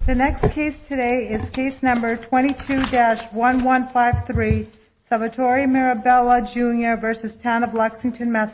Case No. 22-1153 Salvatore Mirabella Jr. v. Town of Lexington, MA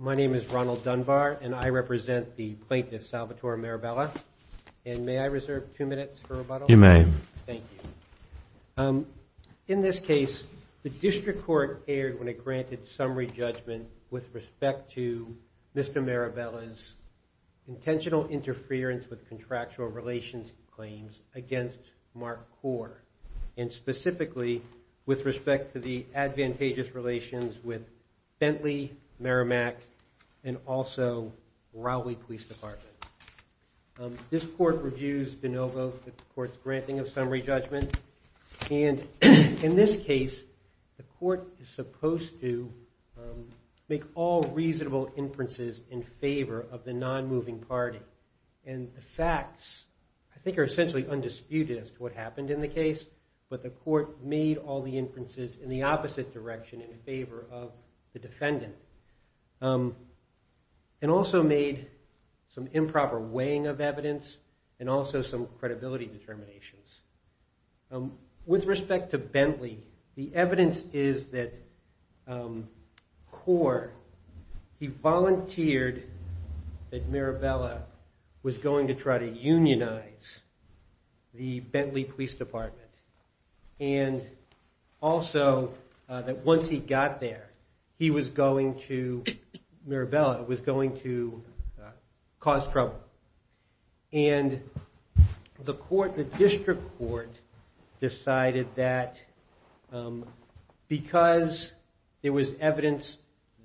My name is Ronald Dunbar, and I represent the plaintiff, Salvatore Mirabella. And may I reserve two minutes for rebuttal? You may. Thank you. In this case, the district court erred when it granted summary judgment with respect to Mr. Mirabella's intentional interference with contractual relations claims against Mark Gore, and specifically with respect to the advantageous relations with Bentley, Merrimack, and also Rowley Police Department. This court reviews de novo the court's granting of summary judgment. And in this case, the court is supposed to make all reasonable inferences in favor of the non-moving party. And the facts, I think, are essentially undisputed as to what happened in the case. But the court made all the inferences in the opposite direction, in favor of the defendant. And also made some improper weighing of evidence, and also some credibility determinations. With respect to Bentley, the evidence is that Gore, he volunteered that Mirabella was going to try to unionize the Bentley Police Department. And also, that once he got there, he was going to, Mirabella was going to cause trouble. And the court, the district court, decided that because there was evidence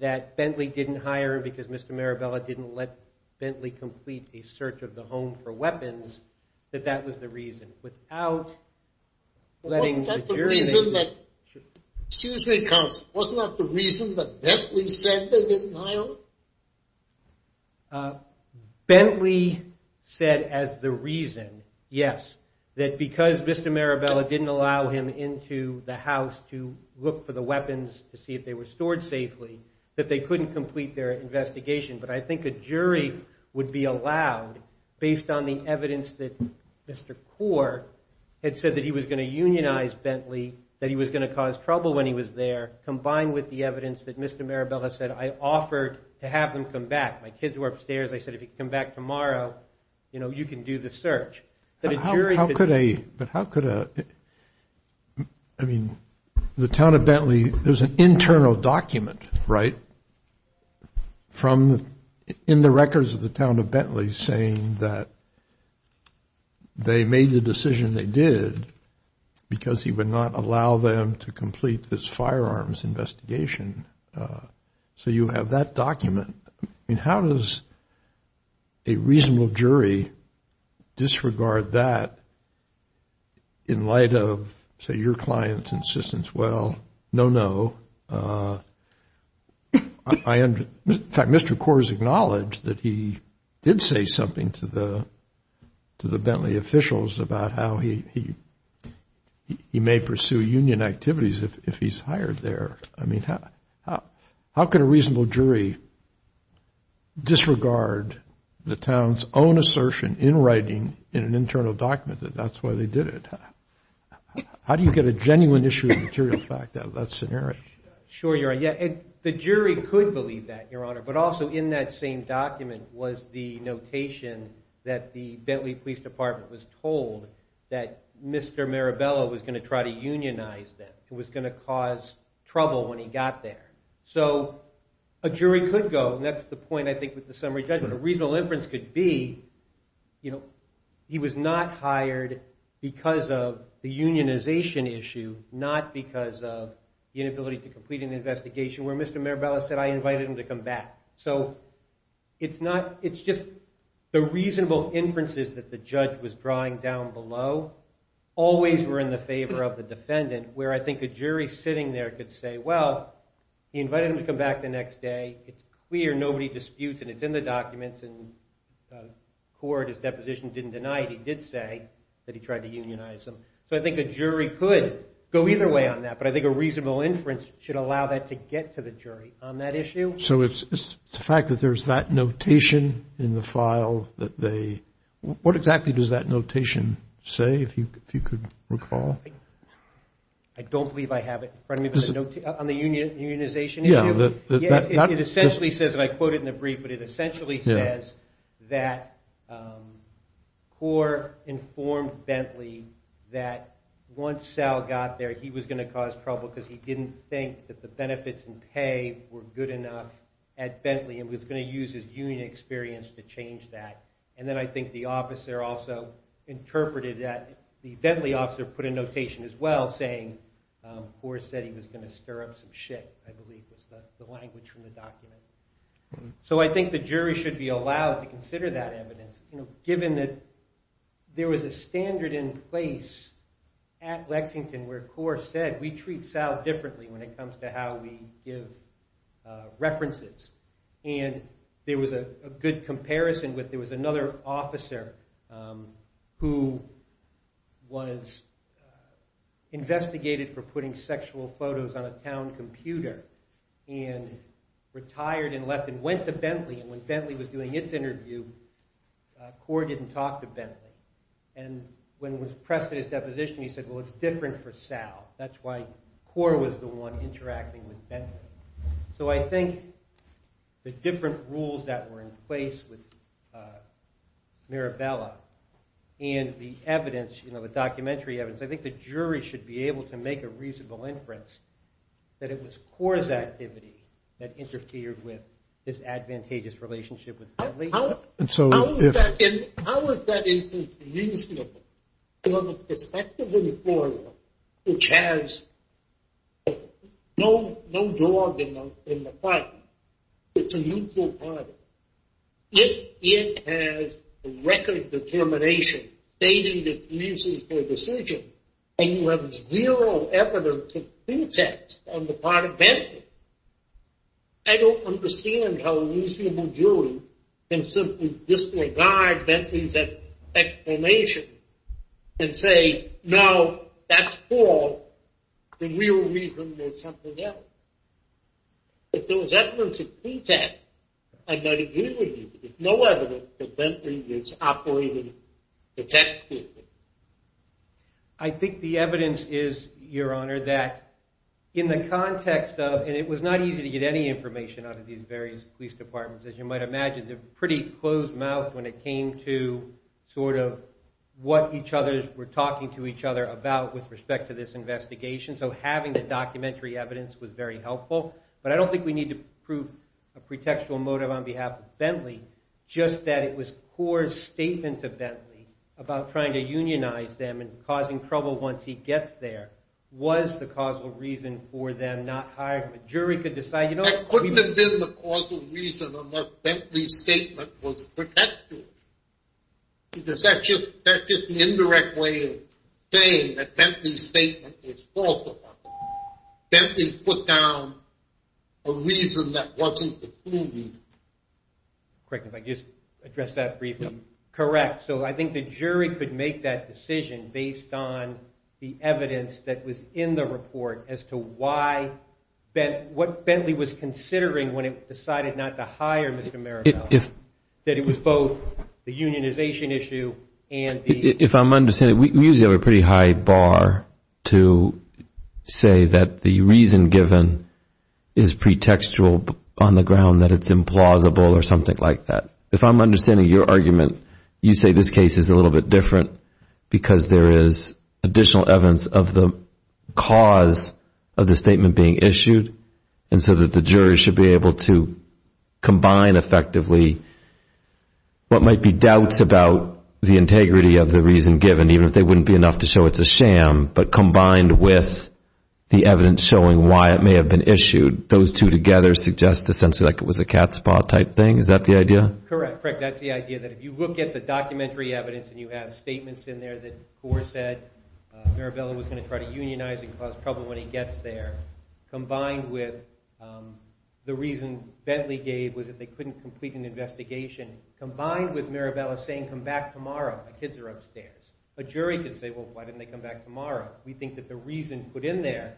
that Bentley didn't hire, because Mr. Mirabella didn't let Bentley complete a search of the home for weapons, that that was the reason. Without letting the jury know. Wasn't that the reason that, excuse me, counsel, wasn't that the reason that Bentley said they didn't hire him? So, Bentley said as the reason, yes, that because Mr. Mirabella didn't allow him into the house to look for the weapons, to see if they were stored safely, that they couldn't complete their investigation. But I think a jury would be allowed, based on the evidence that Mr. Gore had said that he was going to unionize Bentley, that he was going to cause trouble when he was there, combined with the evidence that Mr. Mirabella said, I offered to have them come back. My kids were upstairs. I said, if you come back tomorrow, you know, you can do the search. But a jury could do that. But how could a, I mean, the town of Bentley, there's an internal document, right? From, in the records of the town of Bentley saying that they made the decision they did because he would not allow them to complete this firearms investigation. So, you have that document. I mean, how does a reasonable jury disregard that in light of, say, your client's insistence? Well, no, no. In fact, Mr. Gore has acknowledged that he did say something to the Bentley officials about how he may pursue union activities if he's hired there. I mean, how could a reasonable jury disregard the town's own assertion in writing in an internal document that that's why they did it? How do you get a genuine issue of material fact out of that scenario? Sure, you're right. Yeah, and the jury could believe that, Your Honor. But also, in that same document was the notation that the Bentley Police Department was told that Mr. Mirabella was going to try to unionize them. It was going to cause trouble when he got there. So, a jury could go, and that's the point, I think, with the summary judgment. The reasonable inference could be he was not hired because of the unionization issue, not because of the inability to complete an investigation where Mr. Mirabella said, I invited him to come back. So, it's just the reasonable inferences that the judge was drawing down below always were in the favor of the defendant, where I think a jury sitting there could say, well, he invited him to come back the next day. It's clear nobody disputes, and it's in the documents. And the court, his deposition didn't deny it. He did say that he tried to unionize them. So, I think a jury could go either way on that. But I think a reasonable inference should allow that to get to the jury on that issue. So, it's the fact that there's that notation in the file that they – what exactly does that notation say, if you could recall? I don't believe I have it in front of me. On the unionization issue? It essentially says, and I quote it in the brief, but it essentially says that Kaur informed Bentley that once Sal got there, he was going to cause trouble because he didn't think that the benefits and pay were good enough at Bentley and was going to use his union experience to change that. And then I think the officer also interpreted that. The Bentley officer put a notation as well saying Kaur said he was going to stir up some shit, I believe was the language from the document. So, I think the jury should be allowed to consider that evidence, given that there was a standard in place at Lexington where Kaur said, we treat Sal differently when it comes to how we give references. And there was a good comparison with there was another officer who was investigated for putting sexual photos on a town computer and retired and left and went to Bentley, and when Bentley was doing its interview, Kaur didn't talk to Bentley. And when it was pressed in his deposition, he said, well, it's different for Sal. That's why Kaur was the one interacting with Bentley. So, I think the different rules that were in place with Mirabella and the evidence, you know, the documentary evidence, I think the jury should be able to make a reasonable inference that it was Kaur's activity that interfered with his advantageous relationship with Bentley. And how is that inference reasonable from the perspective of an employer which has no dog in the park? It's a mutual product. If it has record determination stating it's reasonable decision and you have zero evidence of pretext on the part of Bentley, I don't understand how a reasonable jury can simply disregard Bentley's explanation and say, no, that's Kaur, the real reason there's something else. If there was evidence of pretext, I don't agree with you. There's no evidence that Bentley is operating detectively. I think the evidence is, Your Honor, that in the context of, and it was not easy to get any information out of these various police departments. As you might imagine, they're pretty closed-mouthed when it came to sort of what each other were talking to each other about with respect to this investigation. So having the documentary evidence was very helpful. But I don't think we need to prove a pretextual motive on behalf of Bentley. Just that it was Kaur's statement to Bentley about trying to unionize them and causing trouble once he gets there was the causal reason for them not hiring. The jury could decide. That couldn't have been the causal reason on why Bentley's statement was pretextual. That's just an indirect way of saying that Bentley's statement is false. Bentley put down a reason that wasn't the truth. Correct me if I can just address that briefly. Correct. So I think the jury could make that decision based on the evidence that was in the report as to what Bentley was considering when it decided not to hire Mr. Maribel. That it was both the unionization issue and the— If I'm understanding, we usually have a pretty high bar to say that the reason given is pretextual on the ground that it's implausible or something like that. If I'm understanding your argument, you say this case is a little bit different because there is additional evidence of the cause of the statement being issued and so that the jury should be able to combine effectively what might be doubts about the integrity of the reason given, even if they wouldn't be enough to show it's a sham, but combined with the evidence showing why it may have been issued. Those two together suggest essentially like it was a cat's paw type thing. Is that the idea? Correct. That's the idea that if you look at the documentary evidence and you have statements in there that Gore said Maribel was going to try to unionize and cause trouble when he gets there, combined with the reason Bentley gave was that they couldn't complete an investigation, combined with Maribel saying come back tomorrow, the kids are upstairs. A jury could say, well, why didn't they come back tomorrow? We think that the reason put in there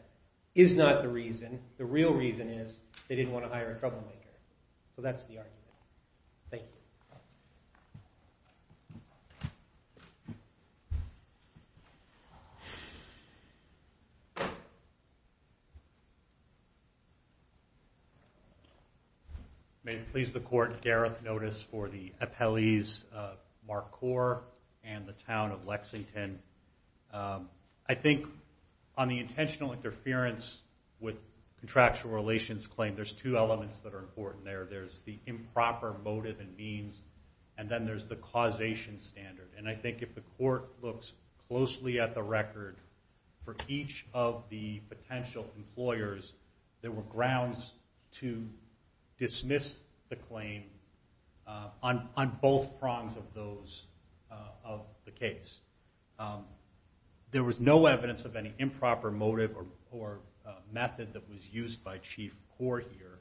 is not the reason. The real reason is they didn't want to hire a troublemaker. So that's the argument. Thank you. Thank you. May it please the Court, Gareth notice for the appellees of Marquardt and the town of Lexington. I think on the intentional interference with contractual relations claim, there's two elements that are important there. There's the improper motive and means, and then there's the causation standard. And I think if the Court looks closely at the record for each of the potential employers, there were grounds to dismiss the claim on both prongs of the case. There was no evidence of any improper motive or method that was used by Chief Gore here.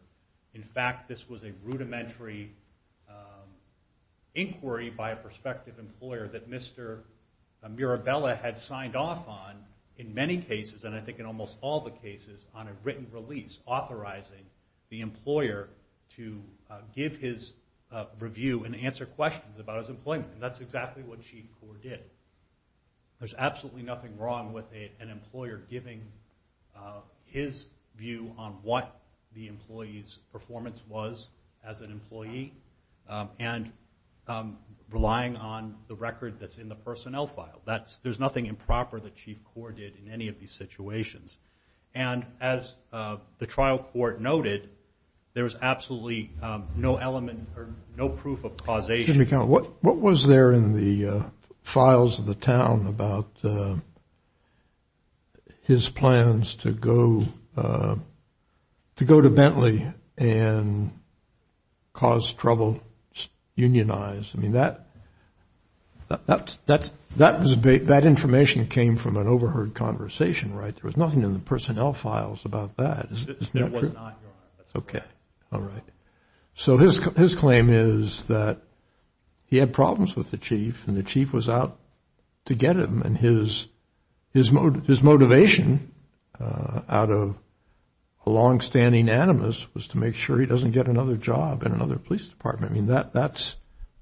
In fact, this was a rudimentary inquiry by a prospective employer that Mr. Mirabella had signed off on in many cases, and I think in almost all the cases, on a written release authorizing the employer to give his review and answer questions about his employment. And that's exactly what Chief Gore did. There's absolutely nothing wrong with an employer giving his view on what the employee's performance was as an employee and relying on the record that's in the personnel file. There's nothing improper that Chief Gore did in any of these situations. And as the trial court noted, there was absolutely no element or no proof of causation. What was there in the files of the town about his plans to go to Bentley and cause trouble, unionize? I mean, that information came from an overheard conversation, right? There was nothing in the personnel files about that. There was not, Your Honor. Okay, all right. So his claim is that he had problems with the chief and the chief was out to get him, and his motivation out of a longstanding animus was to make sure he doesn't get another job in another police department. I mean,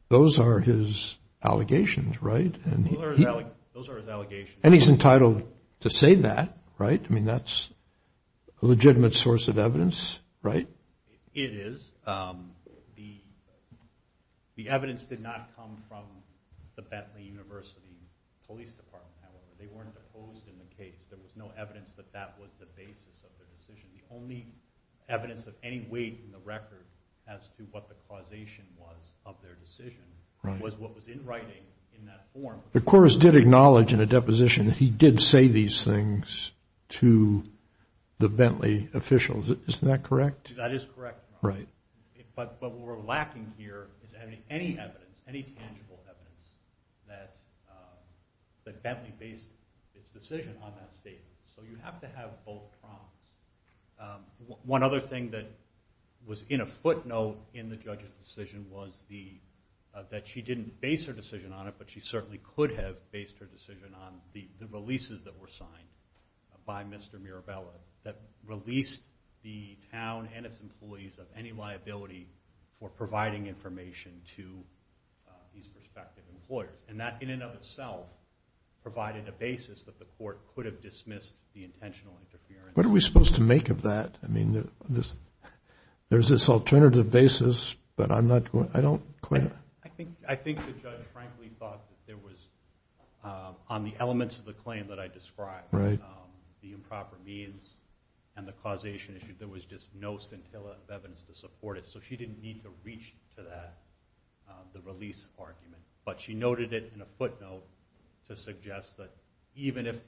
those are his allegations, right? Those are his allegations. And he's entitled to say that, right? I mean, that's a legitimate source of evidence, right? It is. The evidence did not come from the Bentley University Police Department, however. They weren't deposed in the case. There was no evidence that that was the basis of their decision. The only evidence of any weight in the record as to what the causation was of their decision was what was in writing in that form. The courts did acknowledge in a deposition that he did say these things to the Bentley officials. Isn't that correct? That is correct, Your Honor. Right. But what we're lacking here is any evidence, any tangible evidence that Bentley based its decision on that statement. So you have to have both prongs. One other thing that was in a footnote in the judge's decision was that she didn't base her decision on it, but she certainly could have based her decision on the releases that were signed by Mr. Mirabella that released the town and its employees of any liability for providing information to these prospective employers. And that, in and of itself, provided a basis that the court could have dismissed the intentional interference. What are we supposed to make of that? I mean, there's this alternative basis, but I'm not going to – I don't – on the elements of the claim that I described, the improper means and the causation issue, there was just no scintilla of evidence to support it. So she didn't need to reach to that, the release argument. But she noted it in a footnote to suggest that even if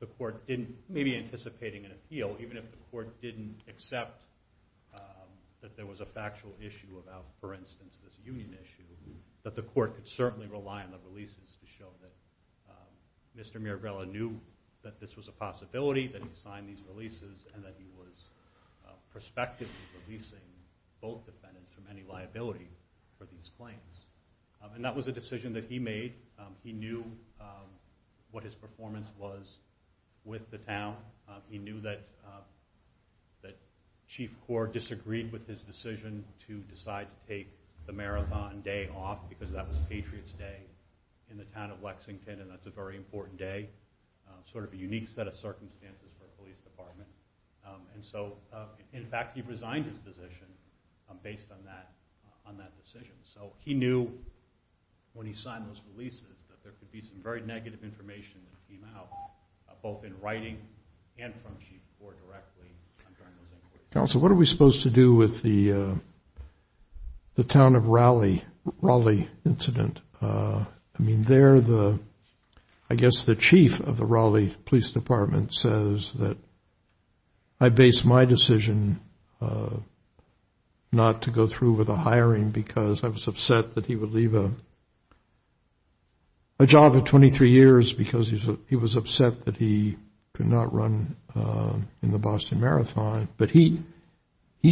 the court didn't – maybe anticipating an appeal, even if the court didn't accept that there was a factual issue about, for instance, this union issue, that the court could certainly rely on the releases to show that Mr. Mirabella knew that this was a possibility, that he signed these releases, and that he was prospectively releasing both defendants from any liability for these claims. And that was a decision that he made. He knew what his performance was with the town. He knew that Chief Core disagreed with his decision to decide to take the marathon day off because that was Patriots Day in the town of Lexington, and that's a very important day, sort of a unique set of circumstances for a police department. And so, in fact, he resigned his position based on that decision. So he knew when he signed those releases that there could be some very negative information that came out, both in writing and from Chief Core directly during those inquiries. Counsel, what are we supposed to do with the town of Raleigh incident? I mean, I guess the chief of the Raleigh Police Department says that I based my decision not to go through with a hiring because I was upset that he would leave a job at 23 years because he was upset that he could not run in the Boston Marathon. But he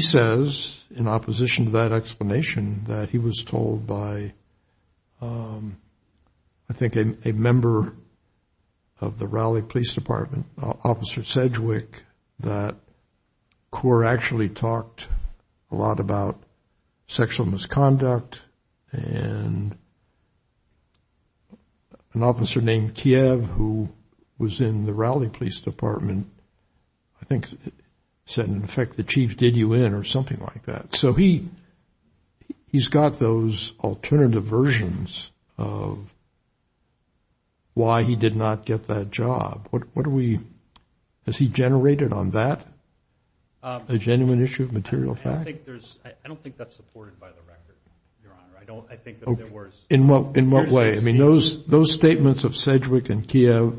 says, in opposition to that explanation, that he was told by, I think, a member of the Raleigh Police Department, Officer Sedgwick, that Core actually talked a lot about sexual misconduct and an officer named Kiev, who was in the Raleigh Police Department, I think said, in effect, the chief did you in or something like that. So he's got those alternative versions of why he did not get that job. Has he generated on that a genuine issue of material fact? I don't think that's supported by the record, Your Honor. In what way? I mean, those statements of Sedgwick and Kiev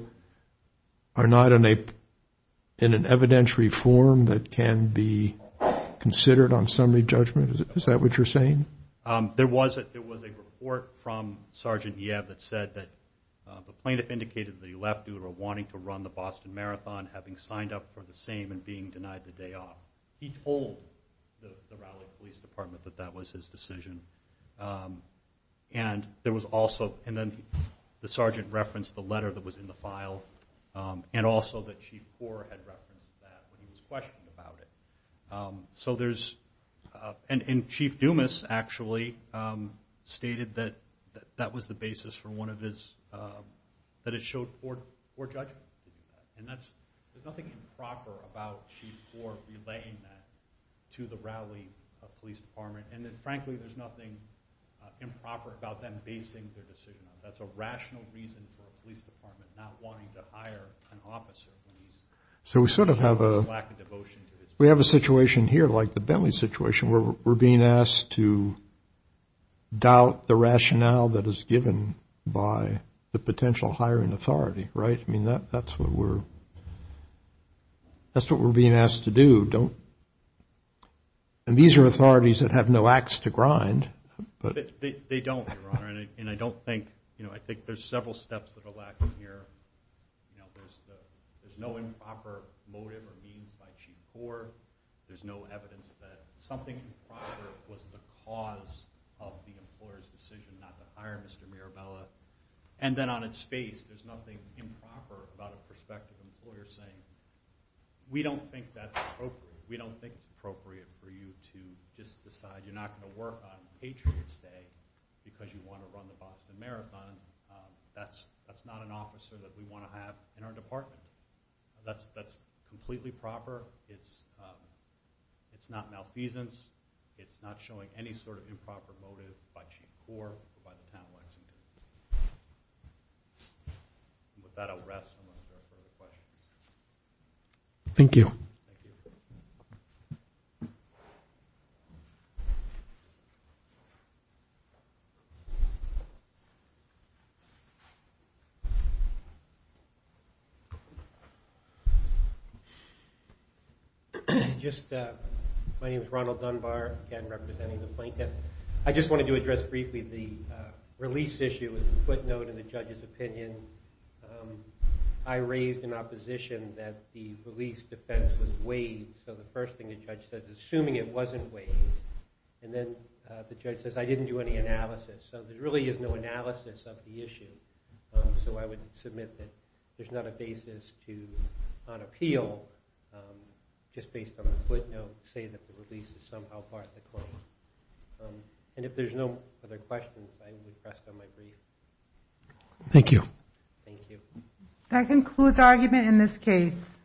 are not in an evidentiary form that can be considered on summary judgment. Is that what you're saying? There was a report from Sergeant Yev that said that the plaintiff indicated that he left due to wanting to run the Boston Marathon, having signed up for the same and being denied the day off. He told the Raleigh Police Department that that was his decision. And there was also, and then the sergeant referenced the letter that was in the file, and also that Chief Core had referenced that when he was questioned about it. So there's, and Chief Dumas actually stated that that was the basis for one of his, that it showed poor judgment. And there's nothing improper about Chief Core relaying that to the Raleigh Police Department. And then, frankly, there's nothing improper about them basing their decision on it. That's a rational reason for a police department not wanting to hire an officer. So we sort of have a, we have a situation here like the Bentley situation where we're being asked to doubt the rationale that is given by the potential hiring authority, right? I mean, that's what we're, that's what we're being asked to do. And these are authorities that have no axe to grind. They don't, Your Honor, and I don't think, you know, I think there's several steps that are lacking here. You know, there's no improper motive or means by Chief Core. There's no evidence that something improper was the cause of the employer's decision not to hire Mr. Mirabella. And then on its face, there's nothing improper about a prospective employer saying, we don't think that's appropriate. We don't think it's appropriate for you to just decide you're not going to work on Patriot's Day because you want to run the Boston Marathon. That's not an officer that we want to have in our department. That's completely proper. It's not malfeasance. It's not showing any sort of improper motive by Chief Core or by the town works. With that, I'll rest unless there are further questions. Thank you. Thank you. Just, my name is Ronald Dunbar, again, representing the plaintiff. I just wanted to address briefly the release issue as a footnote in the judge's opinion. I raised in opposition that the release defense was waived. So the first thing the judge says, assuming it wasn't waived, and then the judge says, I didn't do any analysis. So there really is no analysis of the issue. So I would submit that there's not a basis to, on appeal, just based on the footnote, say that the release is somehow part of the court. And if there's no further questions, I would rest on my brief. Thank you. Thank you. That concludes our argument in this case.